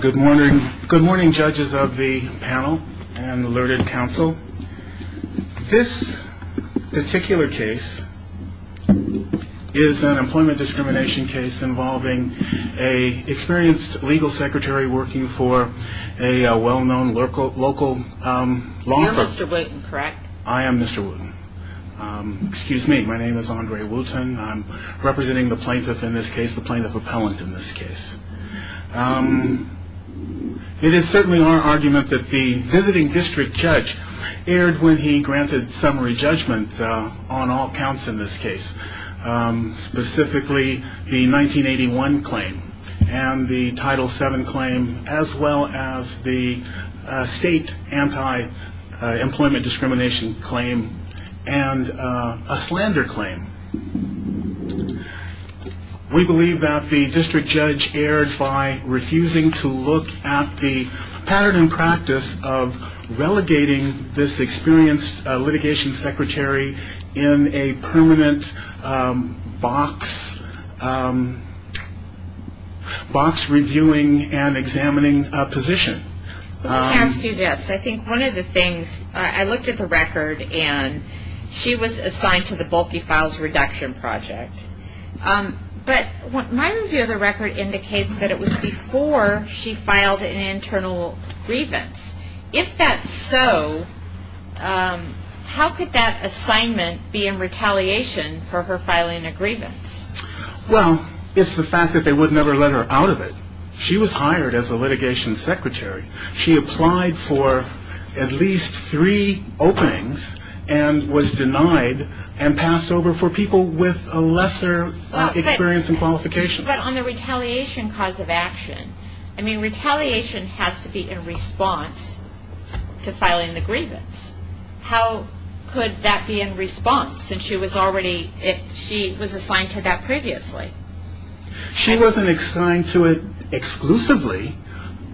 Good morning judges of the panel and alerted council. This particular case is an employment discrimination case involving an experienced legal secretary working for a well-known local law firm. You're Mr. Wooten, correct? I am Mr. Wooten. Excuse me, my name is Andre Wooten. I'm representing the plaintiff in this case, the plaintiff appellant in this case. It is certainly our argument that the visiting district judge erred when he granted summary judgment on all counts in this case, specifically the 1981 claim and the Title VII claim as well as the state anti-employment discrimination claim and a slander claim. We believe that the district judge erred by refusing to look at the pattern and practice of relegating this experienced litigation secretary in a permanent box reviewing and examining position. Let me ask you this. I think one of the things, I looked at the record and she was assigned to the bulky files reduction project. But my review of the record indicates that it was before she filed an internal grievance. If that's so, how could that assignment be in retaliation for her filing a grievance? Well, it's the fact that they would never let her out of it. She was hired as a litigation secretary. She applied for at least three openings and was denied and passed over for people with a lesser experience and qualification. But on the retaliation cause of action, I mean retaliation has to be in response to filing the grievance. How could that be in response? She was assigned to that previously. She wasn't assigned to it exclusively.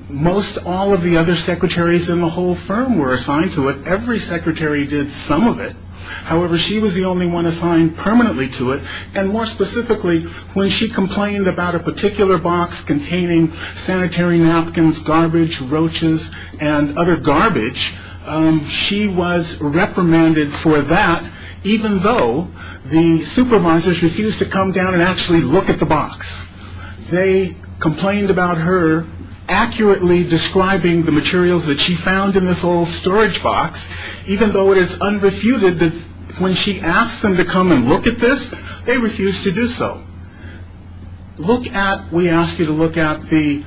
Most all of the other secretaries in the whole firm were assigned to it. Every secretary did some of it. However, she was the only one assigned permanently to it and more specifically when she complained about a particular box containing sanitary napkins, garbage, roaches, and other garbage, she was reprimanded for that even though the supervisors refused to come down and actually look at the box. They complained about her accurately describing the materials that she found in this old storage box even though it is unrefuted that when she asked them to come and look at this, they refused to do so. Look at, we ask you to look at the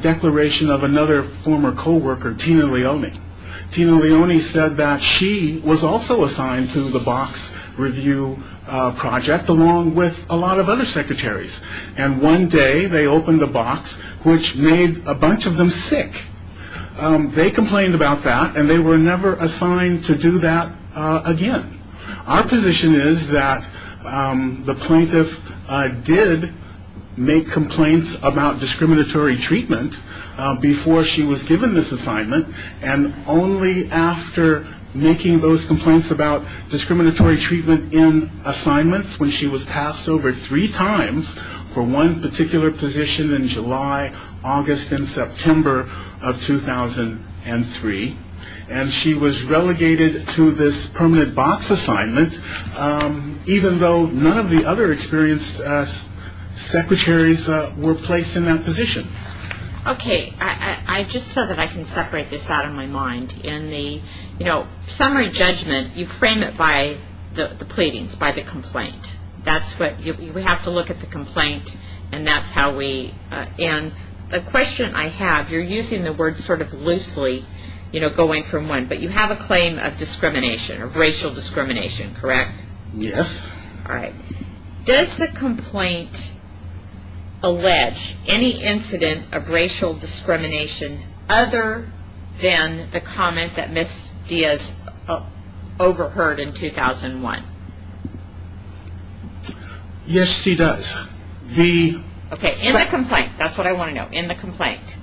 declaration of another former coworker, Tina Leone. Tina Leone said that she was also assigned to the box review project along with a lot of other secretaries. And one day they opened a box which made a bunch of them sick. They complained about that and they were never assigned to do that again. Our position is that the plaintiff did make complaints about discriminatory treatment before she was given this assignment and only after making those complaints about discriminatory treatment in assignments when she was passed over three times for one particular position in July, August, and September of 2003. And she was relegated to this permanent box assignment even though none of the other experienced secretaries were placed in that position. Okay, just so that I can separate this out of my mind, summary judgment, you frame it by the pleadings, by the complaint. That's what, we have to look at the complaint and that's how we, and the question I have, you're using the word sort of loosely going from one, but you have a claim of discrimination, of racial discrimination, correct? Yes. All right. Does the complaint allege any incident of racial discrimination other than the comment that Ms. Diaz overheard in 2001? Yes, she does. Okay, in the complaint, that's what I want to know, in the complaint.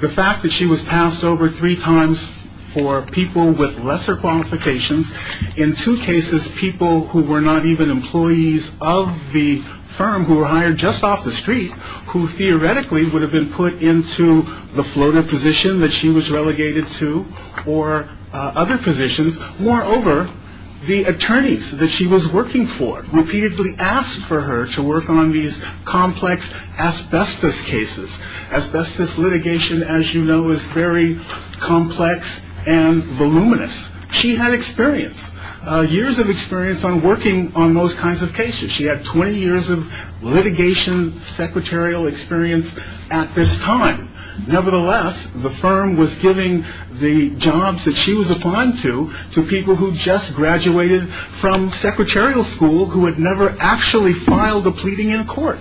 The fact that she was passed over three times for people with lesser qualifications, in two cases people who were not even employees of the firm, who were hired just off the street, who theoretically would have been put into the Florida position that she was relegated to, or other positions, moreover, the attorneys that she was working for repeatedly asked for her to work on these complex asbestos cases. Asbestos litigation, as you know, is very complex and voluminous. She had experience, years of experience on working on those kinds of cases. She had 20 years of litigation secretarial experience at this time. Nevertheless, the firm was giving the jobs that she was applying to, to people who just graduated from secretarial school who had never actually filed a pleading in court.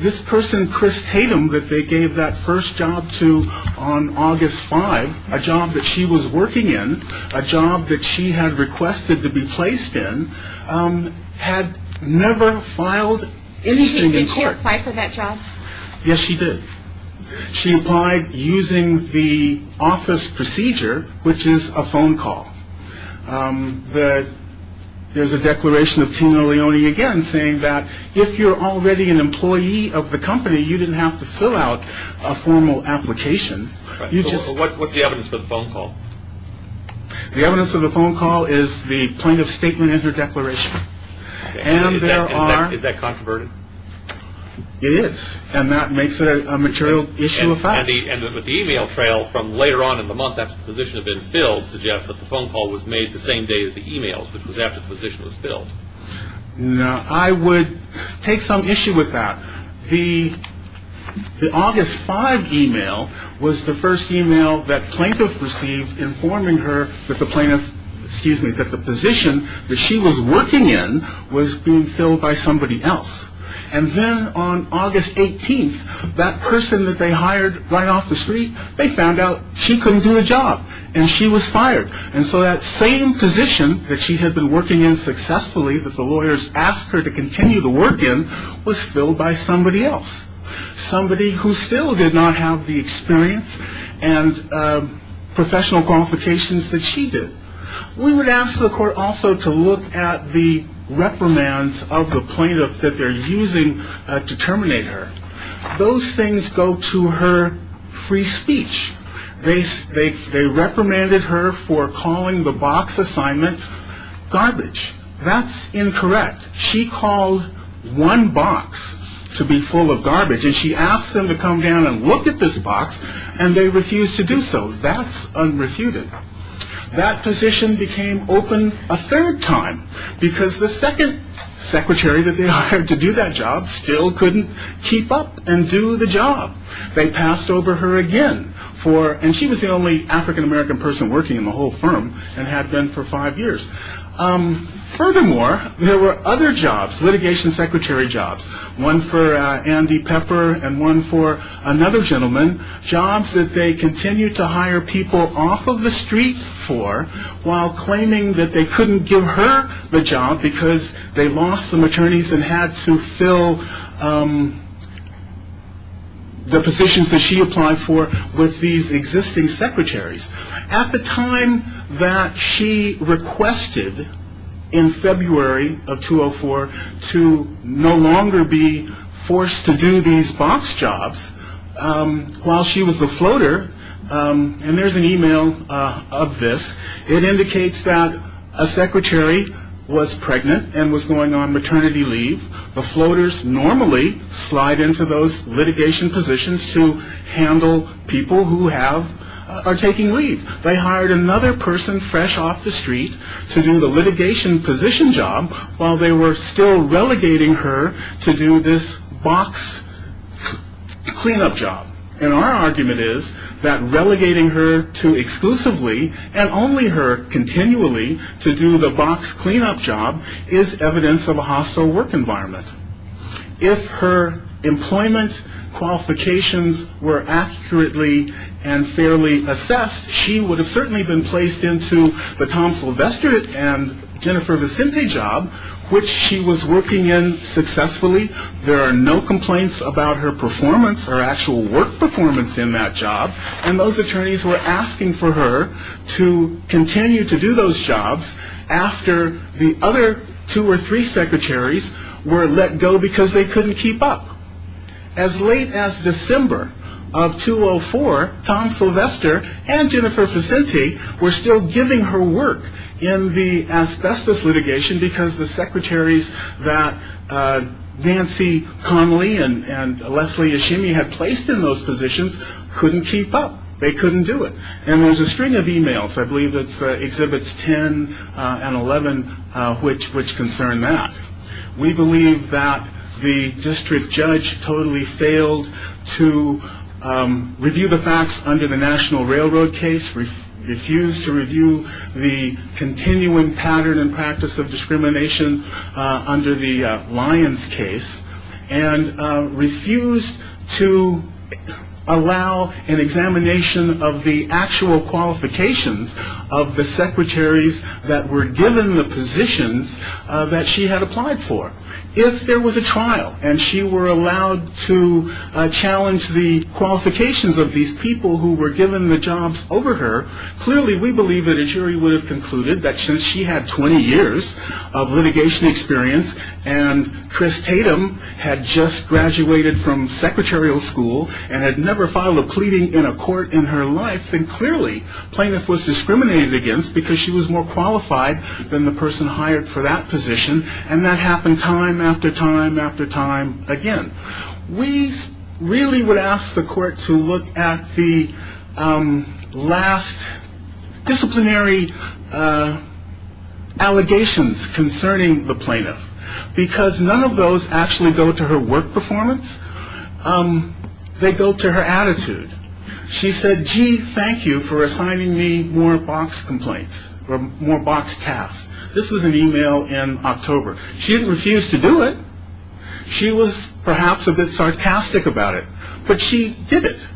This person, Chris Tatum, that they gave that first job to on August 5, a job that she was working in, a job that she had requested to be placed in, had never filed anything in court. Did she apply for that job? Yes, she did. She applied using the office procedure, which is a phone call. There's a declaration of penal lioni again saying that if you're already an employee of the company, you didn't have to fill out a formal application. What's the evidence for the phone call? The evidence for the phone call is the plaintiff's statement and her declaration. Is that controverted? It is, and that makes it a material issue of fact. The email trail from later on in the month after the position had been filled suggests that the phone call was made the same day as the emails, which was after the position was filled. I would take some issue with that. The August 5 email was the first email that plaintiff received informing her that the position that she was working in was being filled by somebody else. And then on August 18, that person that they hired right off the street, they found out she couldn't do the job, and she was fired. And so that same position that she had been working in successfully, that the lawyers asked her to continue to work in, was filled by somebody else, somebody who still did not have the experience and professional qualifications that she did. We would ask the court also to look at the reprimands of the plaintiff that they're using to terminate her. Those things go to her free speech. They reprimanded her for calling the box assignment garbage. That's incorrect. She called one box to be full of garbage, and she asked them to come down and look at this box, and they refused to do so. That's unrefuted. That position became open a third time, because the second secretary that they hired to do that job still couldn't keep up and do the job. They passed over her again. And she was the only African-American person working in the whole firm and had been for five years. Furthermore, there were other jobs, litigation secretary jobs, one for Andy Pepper and one for another gentleman, jobs that they continued to hire people off of the street for, while claiming that they couldn't give her the job because they lost some attorneys and had to fill the positions that she applied for with these existing secretaries. At the time that she requested in February of 2004 to no longer be forced to do these box jobs, while she was a floater, and there's an e-mail of this, it indicates that a secretary was pregnant and was going on maternity leave. The floaters normally slide into those litigation positions to handle people who are taking leave. They hired another person fresh off the street to do the litigation position job while they were still relegating her to do this box cleanup job. And our argument is that relegating her to exclusively and only her continually to do the box cleanup job is evidence of a hostile work environment. If her employment qualifications were accurately and fairly assessed, she would have certainly been placed into the Tom Sylvester and Jennifer Vicente job, which she was working in successfully. There are no complaints about her performance or actual work performance in that job. And those attorneys were asking for her to continue to do those jobs after the other two or three secretaries were let go because they couldn't keep up. As late as December of 2004, Tom Sylvester and Jennifer Vicente were still giving her work in the asbestos litigation because the secretaries that Nancy Connelly and Leslie Yashimi had placed in those positions couldn't keep up. They couldn't do it. And there's a string of e-mails, I believe it's Exhibits 10 and 11, which concern that. We believe that the district judge totally failed to review the facts under the National Railroad case, refused to review the continuing pattern and practice of discrimination under the Lyons case, and refused to allow an examination of the actual qualifications of the secretaries that were given the positions that she had applied for. If there was a trial and she were allowed to challenge the qualifications of these people who were given the jobs over her, clearly we believe that a jury would have concluded that since she had 20 years of litigation experience and Chris Tatum had just graduated from secretarial school and had never filed a pleading in a court in her life, then clearly plaintiff was discriminated against because she was more qualified than the person hired for that position. And that happened time after time after time again. We really would ask the court to look at the last disciplinary allegations concerning the plaintiff because none of those actually go to her work performance. They go to her attitude. She said, gee, thank you for assigning me more box complaints or more box tasks. This was an e-mail in October. She didn't refuse to do it. She was perhaps a bit sarcastic about it, but she did it.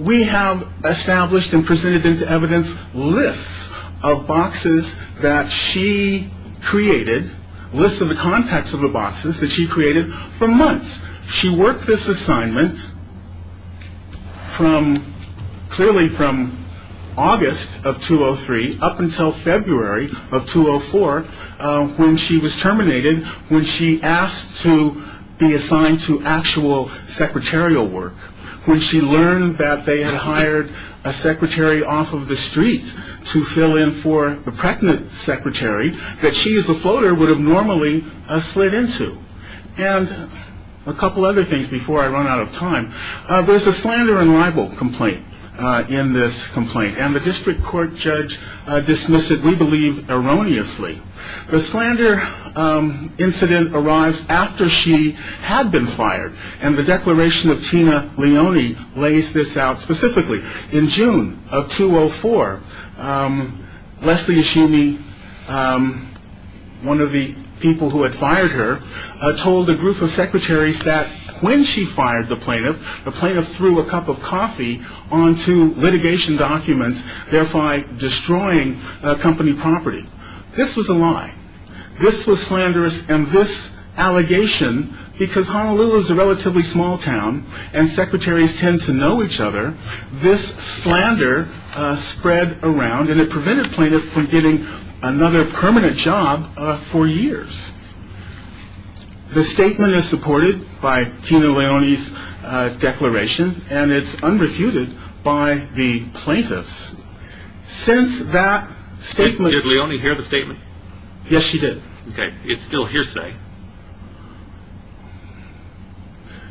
We have established and presented into evidence lists of boxes that she created, lists of the contacts of the boxes that she created for months. She worked this assignment clearly from August of 2003 up until February of 2004 when she was terminated, when she asked to be assigned to actual secretarial work, when she learned that they had hired a secretary off of the street to fill in for the pregnant secretary that she as a floater would have normally slid into. And a couple other things before I run out of time. There's a slander and libel complaint in this complaint, and the district court judge dismissed it, we believe, erroneously. The slander incident arrives after she had been fired, and the declaration of Tina Leone lays this out specifically. In June of 2004, Leslie Ashimi, one of the people who had fired her, told a group of secretaries that when she fired the plaintiff, the plaintiff threw a cup of coffee onto litigation documents, thereby destroying company property. This was a lie. This was slanderous, and this allegation, because Honolulu is a relatively small town and secretaries tend to know each other, this slander spread around and it prevented plaintiffs from getting another permanent job for years. The statement is supported by Tina Leone's declaration, and it's unrefuted by the plaintiffs. Since that statement... Did Leone hear the statement? Yes, she did. Okay, it's still hearsay.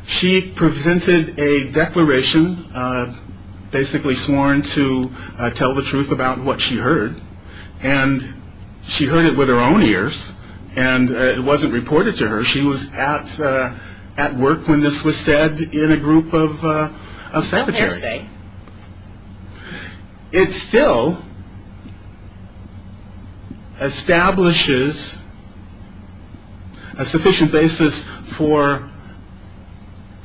She presented a declaration, basically sworn to tell the truth about what she heard, and she heard it with her own ears, and it wasn't reported to her. She was at work when this was said in a group of secretaries. It's hearsay. It still establishes a sufficient basis for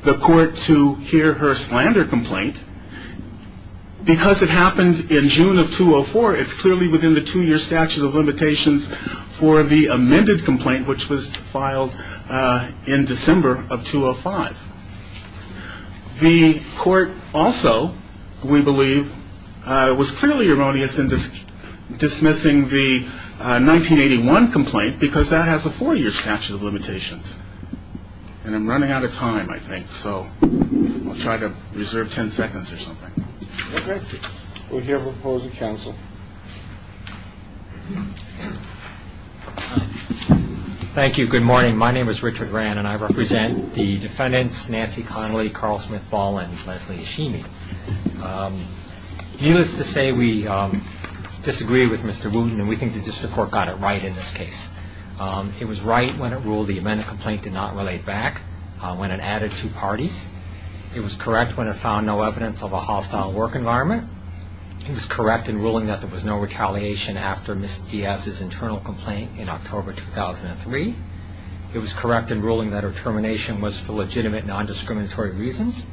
the court to hear her slander complaint. Because it happened in June of 2004, it's clearly within the two-year statute of limitations for the amended complaint, which was filed in December of 2005. The court also, we believe, was clearly erroneous in dismissing the 1981 complaint because that has a four-year statute of limitations. And I'm running out of time, I think, so I'll try to reserve 10 seconds or something. Okay. Would you ever oppose the counsel? Thank you. Good morning. My name is Richard Rann, and I represent the defendants, Nancy Connolly, Carl Smith-Ball, and Leslie Hashimi. Needless to say, we disagree with Mr. Wooten, and we think the district court got it right in this case. It was right when it ruled the amended complaint did not relate back when it added two parties. It was correct when it found no evidence of a hostile work environment. It was correct in ruling that there was no retaliation after Ms. Diaz's internal complaint in October 2003. It was correct in ruling that her termination was for legitimate, non-discriminatory reasons.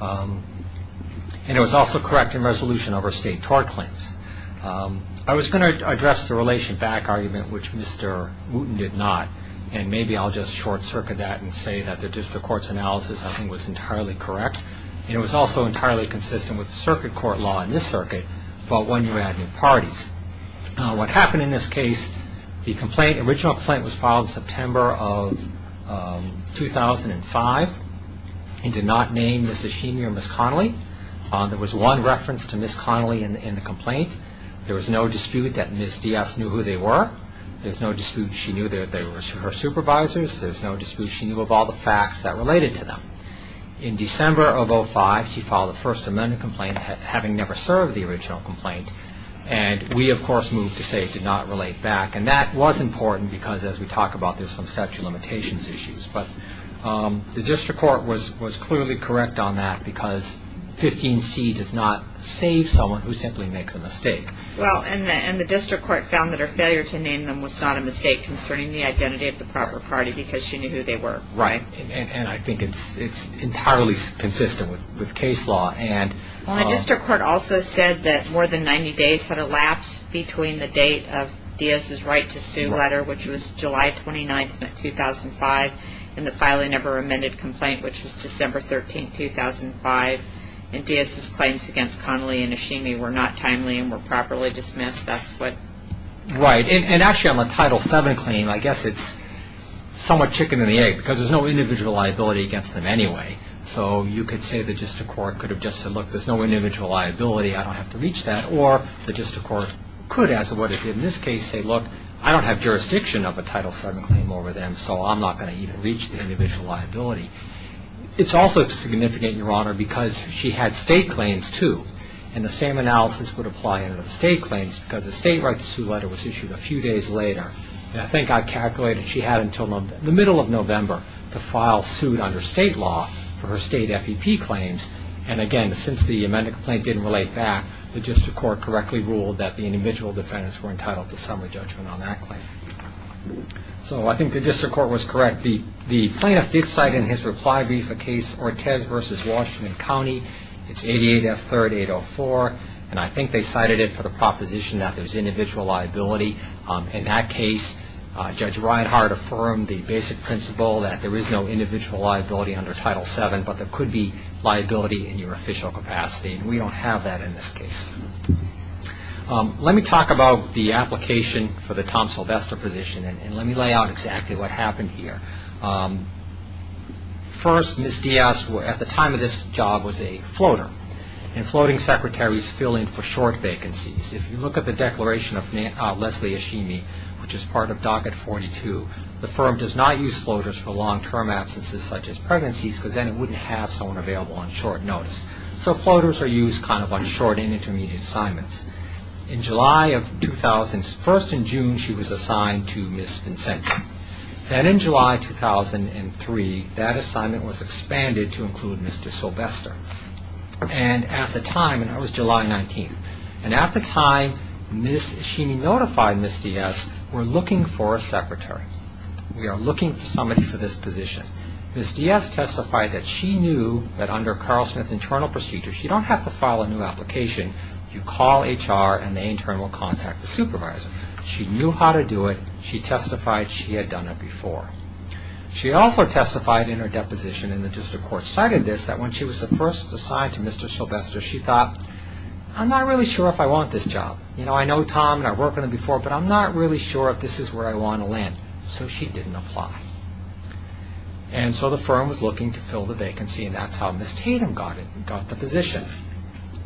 And it was also correct in resolution of her state tort claims. I was going to address the relation back argument, which Mr. Wooten did not, and maybe I'll just short-circuit that and say that the district court's analysis, I think, was entirely correct. It was also entirely consistent with circuit court law in this circuit about when you add new parties. What happened in this case, the original complaint was filed in September of 2005 and did not name Ms. Hashimi or Ms. Connolly. There was one reference to Ms. Connolly in the complaint. There was no dispute that Ms. Diaz knew who they were. There was no dispute she knew they were her supervisors. There was no dispute she knew of all the facts that related to them. In December of 2005, she filed a First Amendment complaint, having never served the original complaint. And we, of course, moved to say it did not relate back. And that was important because, as we talk about, there's some statute of limitations issues. But the district court was clearly correct on that because 15C does not save someone who simply makes a mistake. Well, and the district court found that her failure to name them was not a mistake concerning the identity of the proper party because she knew who they were. Right, and I think it's entirely consistent with case law. Well, the district court also said that more than 90 days had elapsed between the date of Diaz's right-to-sue letter, which was July 29, 2005, and the filing of her amended complaint, which was December 13, 2005. And Diaz's claims against Connolly and Nishimi were not timely and were properly dismissed. Right, and actually on the Title VII claim, I guess it's somewhat chicken and the egg because there's no individual liability against them anyway. So you could say the district court could have just said, look, there's no individual liability, I don't have to reach that. Or the district court could, as of what it did in this case, say, look, I don't have jurisdiction of a Title VII claim over them, so I'm not going to even reach the individual liability. It's also significant, Your Honor, because she had state claims, too. And the same analysis would apply under the state claims because the state right-to-sue letter was issued a few days later. And I think I calculated she had until the middle of November to file suit under state law for her state FEP claims. And again, since the amendment complaint didn't relate back, the district court correctly ruled that the individual defendants were entitled to summary judgment on that claim. So I think the district court was correct. The plaintiff did cite in his reply brief a case, Ortez v. Washington County. It's 88F3804, and I think they cited it for the proposition that there's individual liability. In that case, Judge Ridehart affirmed the basic principle that there is no individual liability under Title VII, but there could be liability in your official capacity, and we don't have that in this case. Let me talk about the application for the Tom Sylvester position, and let me lay out exactly what happened here. First, Ms. Diaz, at the time of this job, was a floater, and floating secretaries fill in for short vacancies. If you look at the declaration of Leslie Ashimi, which is part of Docket 42, the firm does not use floaters for long-term absences, such as pregnancies, because then it wouldn't have someone available on short notice. So floaters are used kind of on short and intermediate assignments. In July of 2000, first in June, she was assigned to Ms. Vincenti. Then in July 2003, that assignment was expanded to include Mr. Sylvester. And at the time, and that was July 19th, and at the time, Ms. Ashimi notified Ms. Diaz, we're looking for a secretary. We are looking for somebody for this position. Ms. Diaz testified that she knew that under Carl Smith's internal procedure, she don't have to file a new application. You call HR, and they internal contact the supervisor. She knew how to do it. She testified she had done it before. She also testified in her deposition, and the district court cited this, that when she was first assigned to Mr. Sylvester, she thought, I'm not really sure if I want this job. I know Tom, and I've worked with him before, but I'm not really sure if this is where I want to land. So she didn't apply. And so the firm was looking to fill the vacancy, and that's how Ms. Tatum got the position.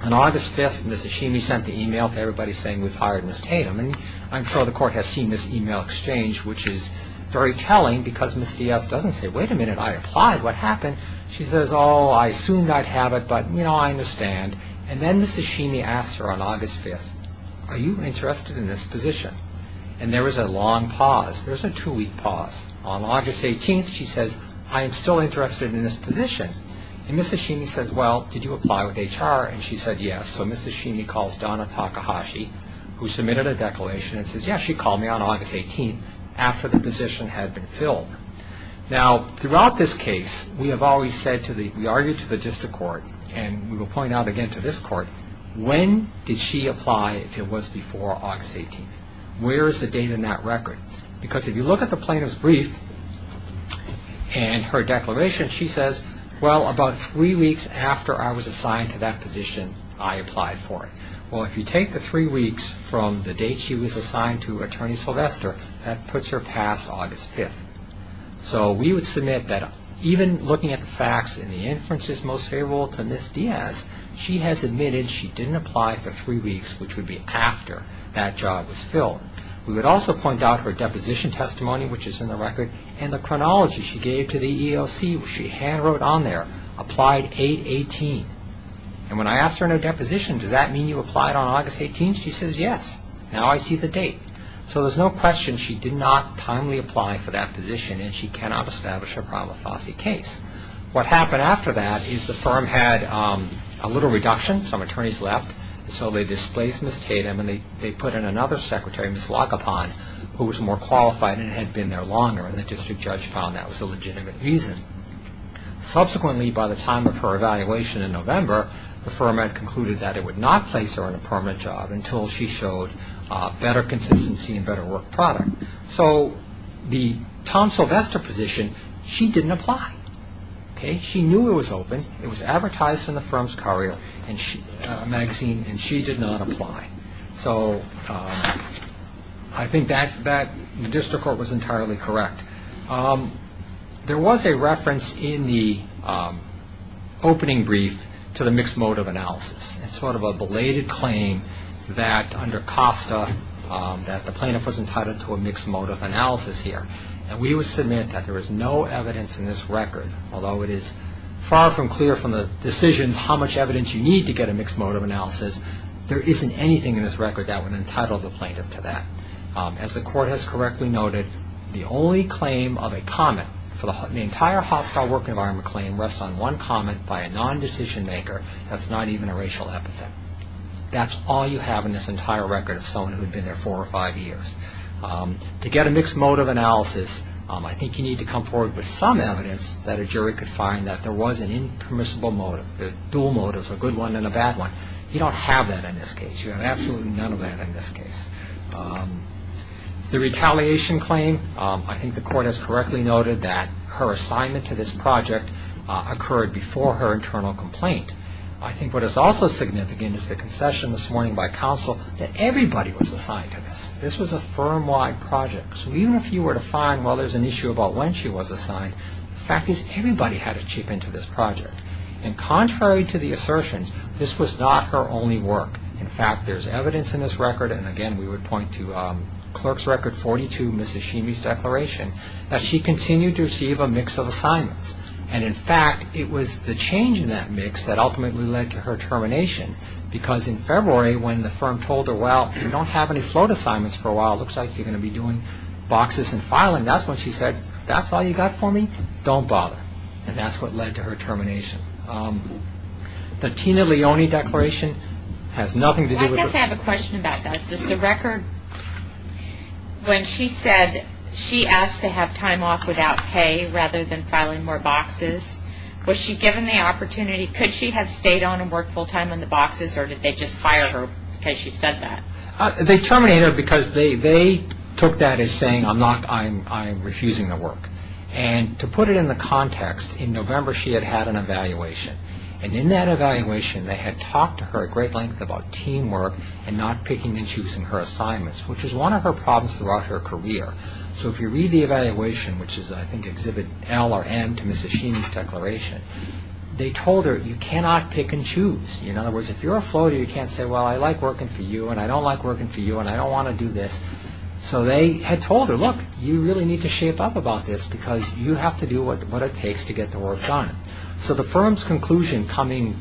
On August 5th, Ms. Ashimi sent the email to everybody saying, we've hired Ms. Tatum. And I'm sure the court has seen this email exchange, which is very telling, because Ms. Diaz doesn't say, wait a minute, I applied, what happened? She says, oh, I assumed I'd have it, but, you know, I understand. And then Ms. Ashimi asked her on August 5th, are you interested in this position? And there was a long pause. There was a two-week pause. On August 18th, she says, I am still interested in this position. And Ms. Ashimi says, well, did you apply with HR? And she said, yes. So Ms. Ashimi calls Donna Takahashi, who submitted a declaration and says, yes, she called me on August 18th after the position had been filled. Now, throughout this case, we have always said to the – we argued to the district court, and we will point out again to this court, when did she apply if it was before August 18th? Where is the date in that record? Because if you look at the plaintiff's brief and her declaration, she says, well, about three weeks after I was assigned to that position, I applied for it. Well, if you take the three weeks from the date she was assigned to Attorney Sylvester, that puts her past August 5th. So we would submit that even looking at the facts and the inferences most favorable to Ms. Diaz, she has admitted she didn't apply for three weeks, which would be after that job was filled. We would also point out her deposition testimony, which is in the record, and the chronology she gave to the EEOC, which she handwrote on there, applied 8-18. And when I asked her no deposition, does that mean you applied on August 18th? She says, yes. Now I see the date. So there's no question she did not timely apply for that position, and she cannot establish her prima facie case. What happened after that is the firm had a little reduction, some attorneys left, so they displaced Ms. Tatum and they put in another secretary, Ms. Lagopan, who was more qualified and had been there longer, and the district judge found that was a legitimate reason. Subsequently, by the time of her evaluation in November, the firm had concluded that it would not place her on a permanent job until she showed better consistency and better work product. So the Tom Sylvester position, she didn't apply. She knew it was open, it was advertised in the firm's magazine, and she did not apply. So I think that the district court was entirely correct. There was a reference in the opening brief to the mixed motive analysis. It's sort of a belated claim that under COSTA that the plaintiff was entitled to a mixed motive analysis here. And we would submit that there is no evidence in this record, although it is far from clear from the decisions how much evidence you need to get a mixed motive analysis, there isn't anything in this record that would entitle the plaintiff to that. As the court has correctly noted, the only claim of a comment for the entire hostile work environment claim rests on one comment by a non-decision maker. That's not even a racial epithet. That's all you have in this entire record of someone who had been there four or five years. To get a mixed motive analysis, I think you need to come forward with some evidence that a jury could find that there was an impermissible motive, a dual motive, a good one and a bad one. You don't have that in this case. You have absolutely none of that in this case. The retaliation claim, I think the court has correctly noted that her assignment to this project occurred before her internal complaint. I think what is also significant is the concession this morning by counsel that everybody was assigned to this. This was a firm-wide project. So even if you were to find, well, there's an issue about when she was assigned, the fact is everybody had a chip into this project. And contrary to the assertions, this was not her only work. In fact, there's evidence in this record, and again, we would point to Clerk's Record 42, Ms. Hashimi's declaration, that she continued to receive a mix of assignments. And in fact, it was the change in that mix that ultimately led to her termination because in February when the firm told her, well, you don't have any float assignments for a while. It looks like you're going to be doing boxes and filing. That's when she said, that's all you got for me? Don't bother. And that's what led to her termination. The Tina Leone declaration has nothing to do with her. I guess I have a question about that. Does the record, when she said she asked to have time off without pay rather than filing more boxes, was she given the opportunity, could she have stayed on and worked full-time on the boxes or did they just fire her because she said that? They terminated her because they took that as saying, I'm refusing the work. And to put it in the context, in November she had had an evaluation. And in that evaluation, they had talked to her at great length about teamwork and not picking and choosing her assignments, which was one of her problems throughout her career. So if you read the evaluation, which is I think Exhibit L or N to Ms. Hashimi's declaration, they told her, you cannot pick and choose. In other words, if you're a floater, you can't say, well, I like working for you and I don't like working for you and I don't want to do this. So they had told her, look, you really need to shape up about this because you have to do what it takes to get the work done. So the firm's conclusion coming,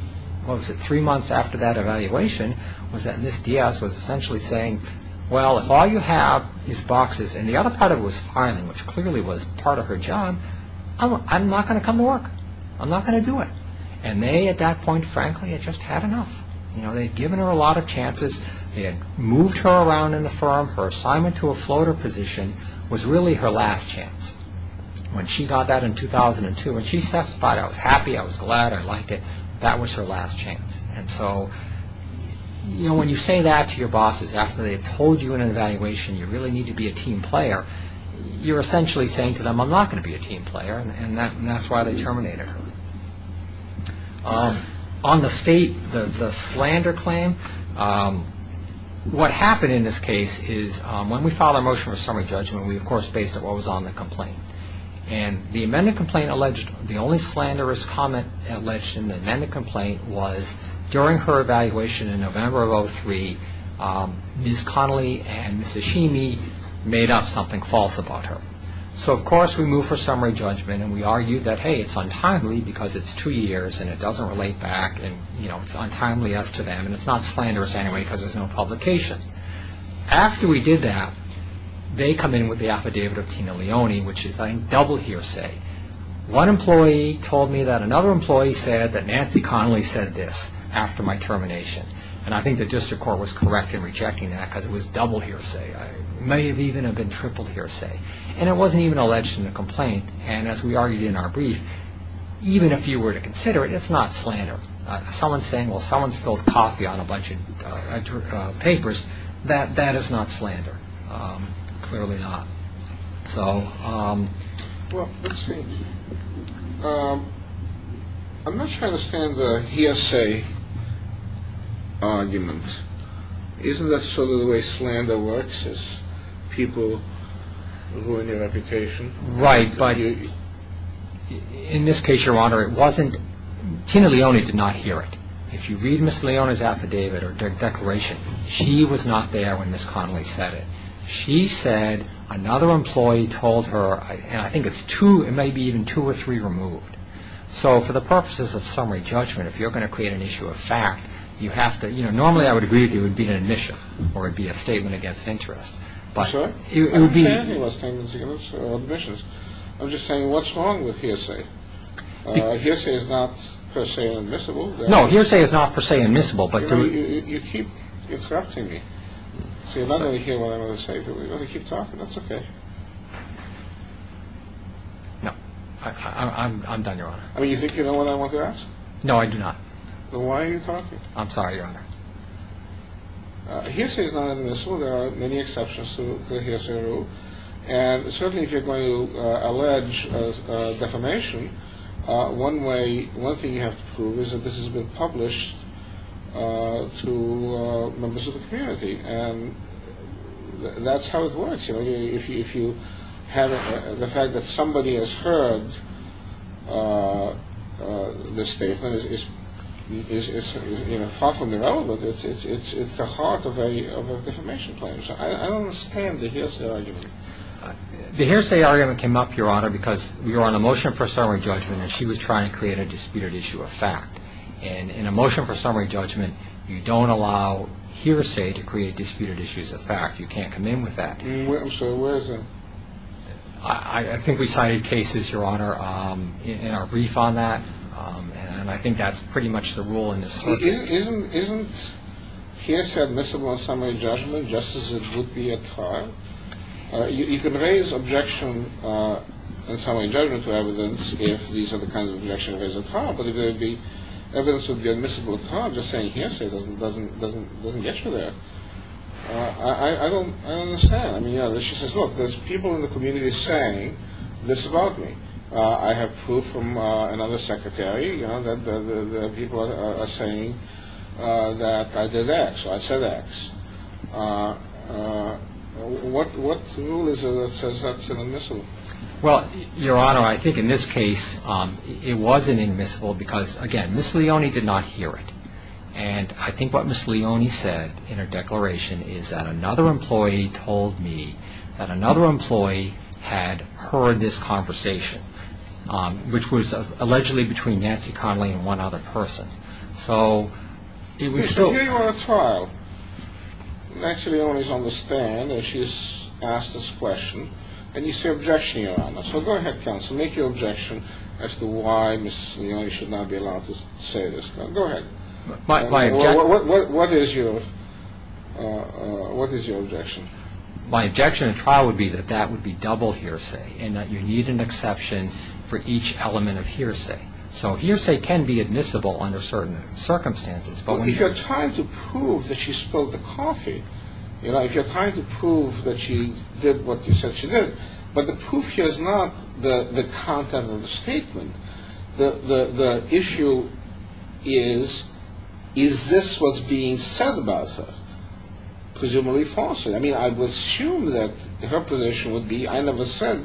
what was it, three months after that evaluation, was that Ms. Diaz was essentially saying, well, if all you have is boxes, and the other part of it was filing, which clearly was part of her job, I'm not going to come to work. I'm not going to do it. And they, at that point, frankly, had just had enough. They had given her a lot of chances. They had moved her around in the firm. Her assignment to a floater position was really her last chance. When she got that in 2002, when she testified, I was happy, I was glad, I liked it, that was her last chance. When you say that to your bosses after they've told you in an evaluation, you really need to be a team player, you're essentially saying to them, I'm not going to be a team player, and that's why they terminated her. On the state, the slander claim, what happened in this case is when we filed our motion for summary judgment, we, of course, based it on what was on the complaint. And the amended complaint alleged, the only slanderous comment alleged in the amended complaint was during her evaluation in November of 2003, Ms. Connelly and Ms. Eshimi made up something false about her. So, of course, we moved for summary judgment and we argued that, hey, it's untimely because it's two years and it doesn't relate back and it's untimely as to them and it's not slanderous anyway because there's no publication. After we did that, they come in with the affidavit of Tina Leone, which is, I think, double hearsay. One employee told me that another employee said that Nancy Connelly said this after my termination. And I think the district court was correct in rejecting that because it was double hearsay. It may even have been triple hearsay. And it wasn't even alleged in the complaint. And as we argued in our brief, even if you were to consider it, it's not slander. Someone's saying, well, someone spilled coffee on a bunch of papers. That is not slander. Clearly not. Well, let's see. I'm not sure I understand the hearsay argument. Isn't that sort of the way slander works is people ruin your reputation? Right, but in this case, Your Honor, Tina Leone did not hear it. If you read Ms. Leone's affidavit or declaration, she was not there when Ms. Connelly said it. She said another employee told her, and I think it's two, it may be even two or three removed. So for the purposes of summary judgment, if you're going to create an issue of fact, normally I would agree with you it would be an admission or it would be a statement against interest. I'm sorry? I don't understand any of those statements or admissions. I'm just saying what's wrong with hearsay? Hearsay is not per se admissible. No, hearsay is not per se admissible. You keep distracting me. So you're not going to hear what I'm going to say. You're going to keep talking. That's okay. No, I'm done, Your Honor. Well, you think you know what I want to ask? No, I do not. Then why are you talking? I'm sorry, Your Honor. Hearsay is not admissible. There are many exceptions to hearsay rule. And certainly if you're going to allege defamation, one thing you have to prove is that this has been published to members of the community. And that's how it works. If you have the fact that somebody has heard the statement, it's far from irrelevant. It's the heart of a defamation claim. So I don't understand the hearsay argument. The hearsay argument came up, Your Honor, because we were on a motion for summary judgment and she was trying to create a disputed issue of fact. And in a motion for summary judgment, you don't allow hearsay to create disputed issues of fact. You can't come in with that. So where is it? I think we cited cases, Your Honor, in our brief on that. And I think that's pretty much the rule in this circuit. Isn't hearsay admissible in summary judgment just as it would be at trial? You can raise objection in summary judgment to evidence if these are the kinds of objections raised at trial. But if there would be evidence that would be admissible at trial, just saying hearsay doesn't get you there. I don't understand. She says, look, there's people in the community saying this about me. I have proof from another secretary that people are saying that I did X or I said X. What rule says that's an admissible? Well, Your Honor, I think in this case it wasn't admissible because, again, Ms. Leone did not hear it. And I think what Ms. Leone said in her declaration is that another employee told me that another employee had heard this conversation, which was allegedly between Nancy Connolly and one other person. So did we still? So here you are at trial. Actually, Your Honor is on the stand and she has asked this question. And you say objection, Your Honor. So go ahead, counsel. Make your objection as to why Ms. Leone should not be allowed to say this. Go ahead. What is your objection? My objection at trial would be that that would be double hearsay and that you need an exception for each element of hearsay. So hearsay can be admissible under certain circumstances. But if you're trying to prove that she spilled the coffee, you know, if you're trying to prove that she did what you said she did, but the proof here is not the content of the statement. The issue is, is this what's being said about her? Presumably falsely. I mean, I would assume that her position would be I never said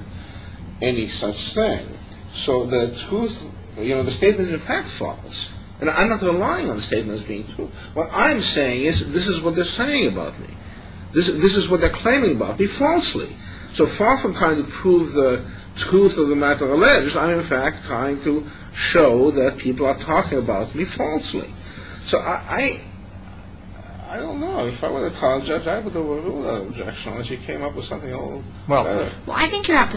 any such thing. So the truth, you know, the statement is in fact false. And I'm not relying on the statement as being true. What I'm saying is this is what they're saying about me. This is what they're claiming about me falsely. So far from trying to prove the truth of the matter alleged, I'm in fact trying to show that people are talking about me falsely. So I don't know. If I were the trial judge, I would do a rule of objection unless you came up with something a little better. Well, I think you have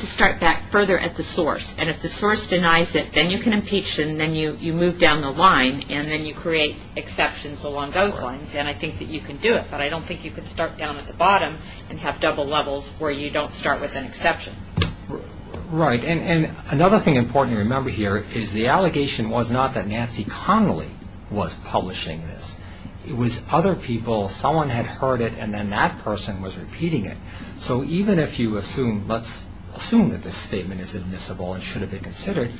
to start back further at the source. And if the source denies it, then you can impeach. And then you move down the line. And then you create exceptions along those lines. And I think that you can do it. But I don't think you can start down at the bottom and have double levels where you don't start with an exception. Right. And another thing important to remember here is the allegation was not that Nancy Connolly was publishing this. It was other people, someone had heard it, and then that person was repeating it. So even if you assume, let's assume that this statement is admissible and should have been considered,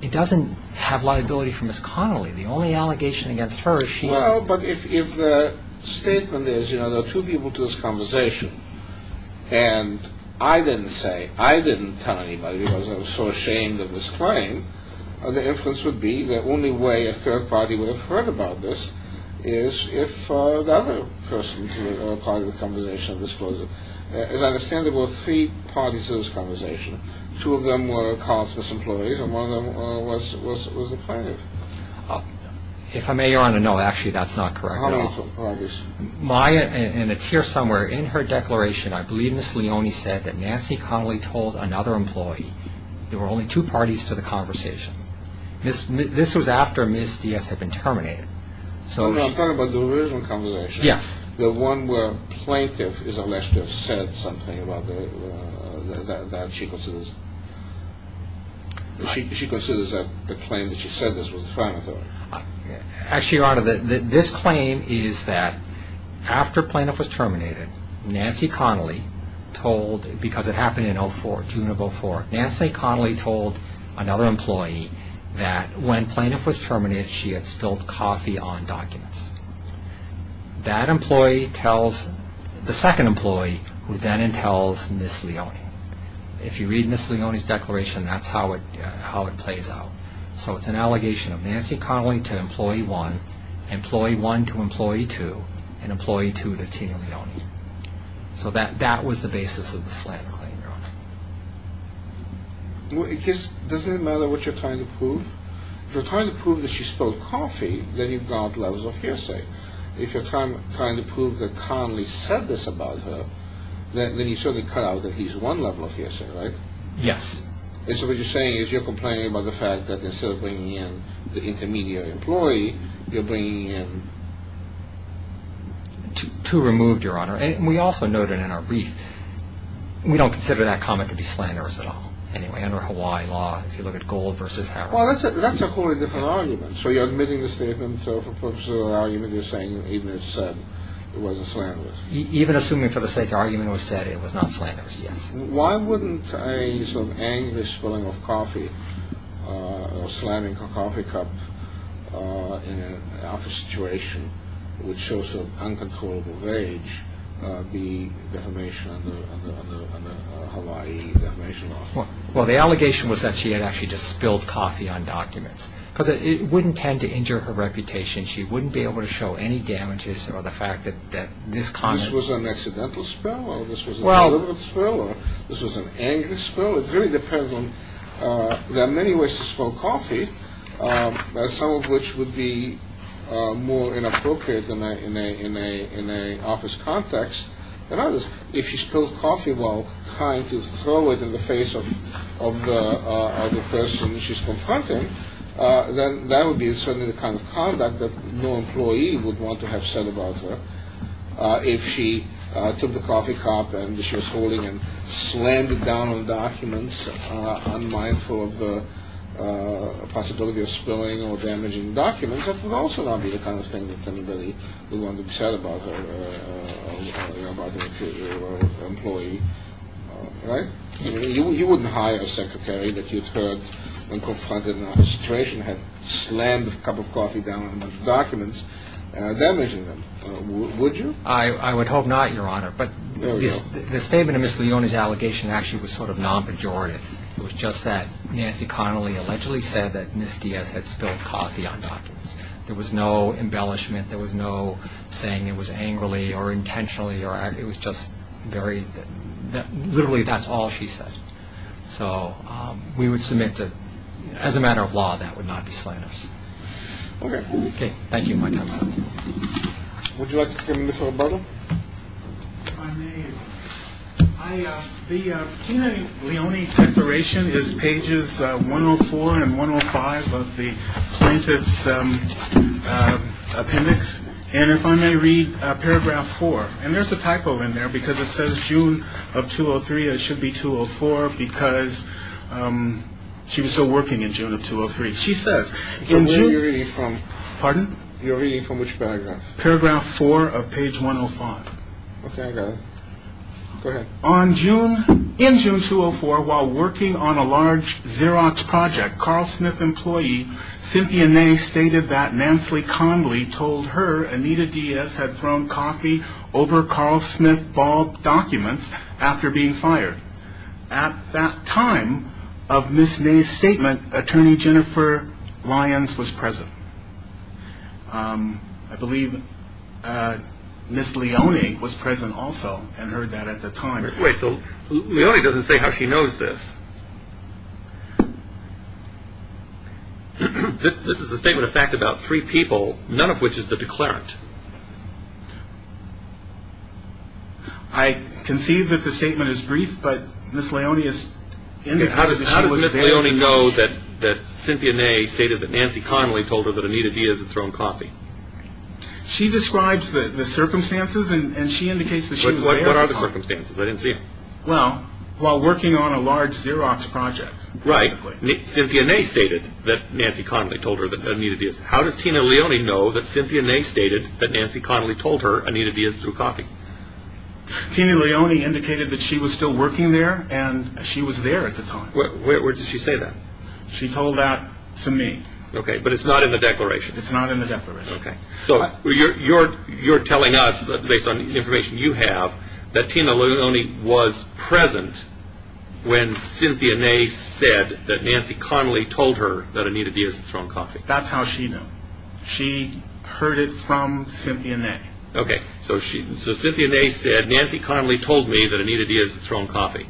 it doesn't have liability for Ms. Connolly. The only allegation against her is she said it. Well, but if the statement is, you know, there are two people to this conversation, and I didn't say, I didn't tell anybody because I was so ashamed of this claim, the inference would be the only way a third party would have heard about this is if the other person to the conversation disclosed it. And I understand there were three parties to this conversation. Two of them were called misemployees, and one of them was the plaintiff. If I may, Your Honor, no, actually that's not correct at all. How many parties? Maya, and it's here somewhere, in her declaration, I believe Ms. Leone said that Nancy Connolly told another employee there were only two parties to the conversation. This was after Ms. Diaz had been terminated. Oh, no, she's talking about the original conversation. Yes. The one where plaintiff is alleged to have said something about the, that she considers, she considers that the claim that she said this was the crime authority. Actually, Your Honor, this claim is that after plaintiff was terminated, Nancy Connolly told, because it happened in 2004, June of 2004, Nancy Connolly told another employee that when plaintiff was terminated, she had spilled coffee on documents. That employee tells, the second employee, who then entails Ms. Leone. If you read Ms. Leone's declaration, that's how it, how it plays out. So it's an allegation of Nancy Connolly to employee one, employee one to employee two, and employee two to Tina Leone. So that, that was the basis of the slander claim, Your Honor. Well, it just, doesn't it matter what you're trying to prove? If you're trying to prove that she spilled coffee, then you've got levels of hearsay. If you're trying to prove that Connolly said this about her, then you've certainly cut out that he's one level of hearsay, right? Yes. And so what you're saying is you're complaining about the fact that instead of bringing in the intermediate employee, you're bringing in... Two removed, Your Honor. And we also noted in our brief, we don't consider that comment to be slanderous at all. Anyway, under Hawaii law, if you look at gold versus house. Well, that's a wholly different argument. So you're admitting the statement for purposes of the argument, you're saying even if said, it wasn't slanderous. Even assuming for the sake of argument it was said, it was not slanderous, yes. Why wouldn't a sort of anguished spilling of coffee, or slamming a coffee cup in an office situation, which shows an uncontrollable rage, be defamation under Hawaii defamation law? Well, the allegation was that she had actually just spilled coffee on documents. Because it wouldn't tend to injure her reputation. She wouldn't be able to show any damages or the fact that this comment... This was an accidental spill, or this was a deliberate spill, or this was an angry spill. It really depends on... There are many ways to spill coffee, If she spilled coffee while trying to throw it in the face of the person she's confronting, then that would be certainly the kind of conduct that no employee would want to have said about her. If she took the coffee cup and she was holding it and slammed it down on documents, unmindful of the possibility of spilling or damaging documents, that would also not be the kind of thing that anybody would want to be said about their employee. Right? You wouldn't hire a secretary that you'd heard, when confronted in an office situation, had slammed a cup of coffee down on documents, damaging them, would you? I would hope not, Your Honor. But the statement of Ms. Leona's allegation actually was sort of non-pejorative. It was just that Nancy Connolly allegedly said that Ms. Diaz had spilled coffee on documents. There was no embellishment. There was no saying it was angrily or intentionally. It was just very... Literally, that's all she said. So we would submit to... As a matter of law, that would not be slanderous. Okay. Okay. Thank you. My time is up. Would you like to explain this, Roberto? If I may... The Tina Leone declaration is pages 104 and 105 of the plaintiff's appendix. And if I may read paragraph 4. And there's a typo in there, because it says June of 2003. It should be 2004, because she was still working in June of 2003. She says... Where are you reading from? Pardon? You're reading from which paragraph? Paragraph 4 of page 105. Okay, I got it. Go ahead. In June 2004, while working on a large Xerox project, Carl Smith employee Cynthia Ney stated that Nancy Connolly told her Anita Diaz had thrown coffee over Carl Smith's bald documents after being fired. At that time of Ms. Ney's statement, attorney Jennifer Lyons was present. I believe Ms. Leone was present also and heard that at the time. Wait, so Leone doesn't say how she knows this. This is a statement of fact about three people, none of which is the declarant. I conceive that the statement is brief, but Ms. Leone is... How does Ms. Leone know that Cynthia Ney stated that Nancy Connolly told her that Anita Diaz had thrown coffee? She describes the circumstances and she indicates that she was there at the time. What are the circumstances? I didn't see them. Well, while working on a large Xerox project, basically. Right. Cynthia Ney stated that Nancy Connolly told her that Anita Diaz... How does Tina Leone know that Cynthia Ney stated that Nancy Connolly told her Anita Diaz threw coffee? Tina Leone indicated that she was still working there and she was there at the time. Where does she say that? She told that to me. Okay, but it's not in the declaration. It's not in the declaration. Okay, so you're telling us, based on the information you have, that Tina Leone was present when Cynthia Ney said that Nancy Connolly told her that Anita Diaz had thrown coffee. That's how she knew. She heard it from Cynthia Ney. Okay, so Cynthia Ney said, Nancy Connolly told me that Anita Diaz had thrown coffee.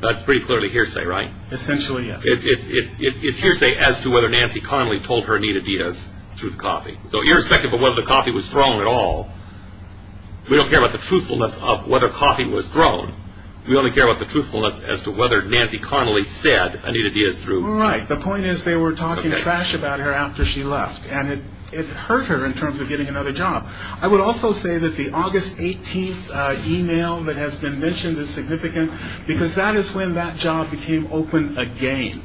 That's pretty clearly hearsay, right? Essentially, yes. It's hearsay as to whether Nancy Connolly told her Anita Diaz threw coffee. So irrespective of whether the coffee was thrown at all, we don't care about the truthfulness of whether coffee was thrown. We only care about the truthfulness as to whether Nancy Connolly said Anita Diaz threw coffee. Right. The point is they were talking trash about her after she left, and it hurt her in terms of getting another job. I would also say that the August 18th email that has been mentioned is significant because that is when that job became open again.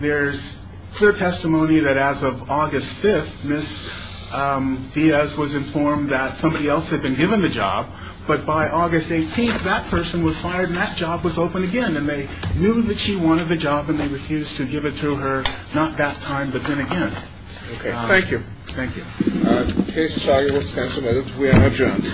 There's clear testimony that as of August 5th, Ms. Diaz was informed that somebody else had been given the job, but by August 18th, that person was fired and that job was open again, and they knew that she wanted the job and they refused to give it to her, not that time, but then again. Okay, thank you. Thank you. In case you're trying to withstand some of this, we are adjourned.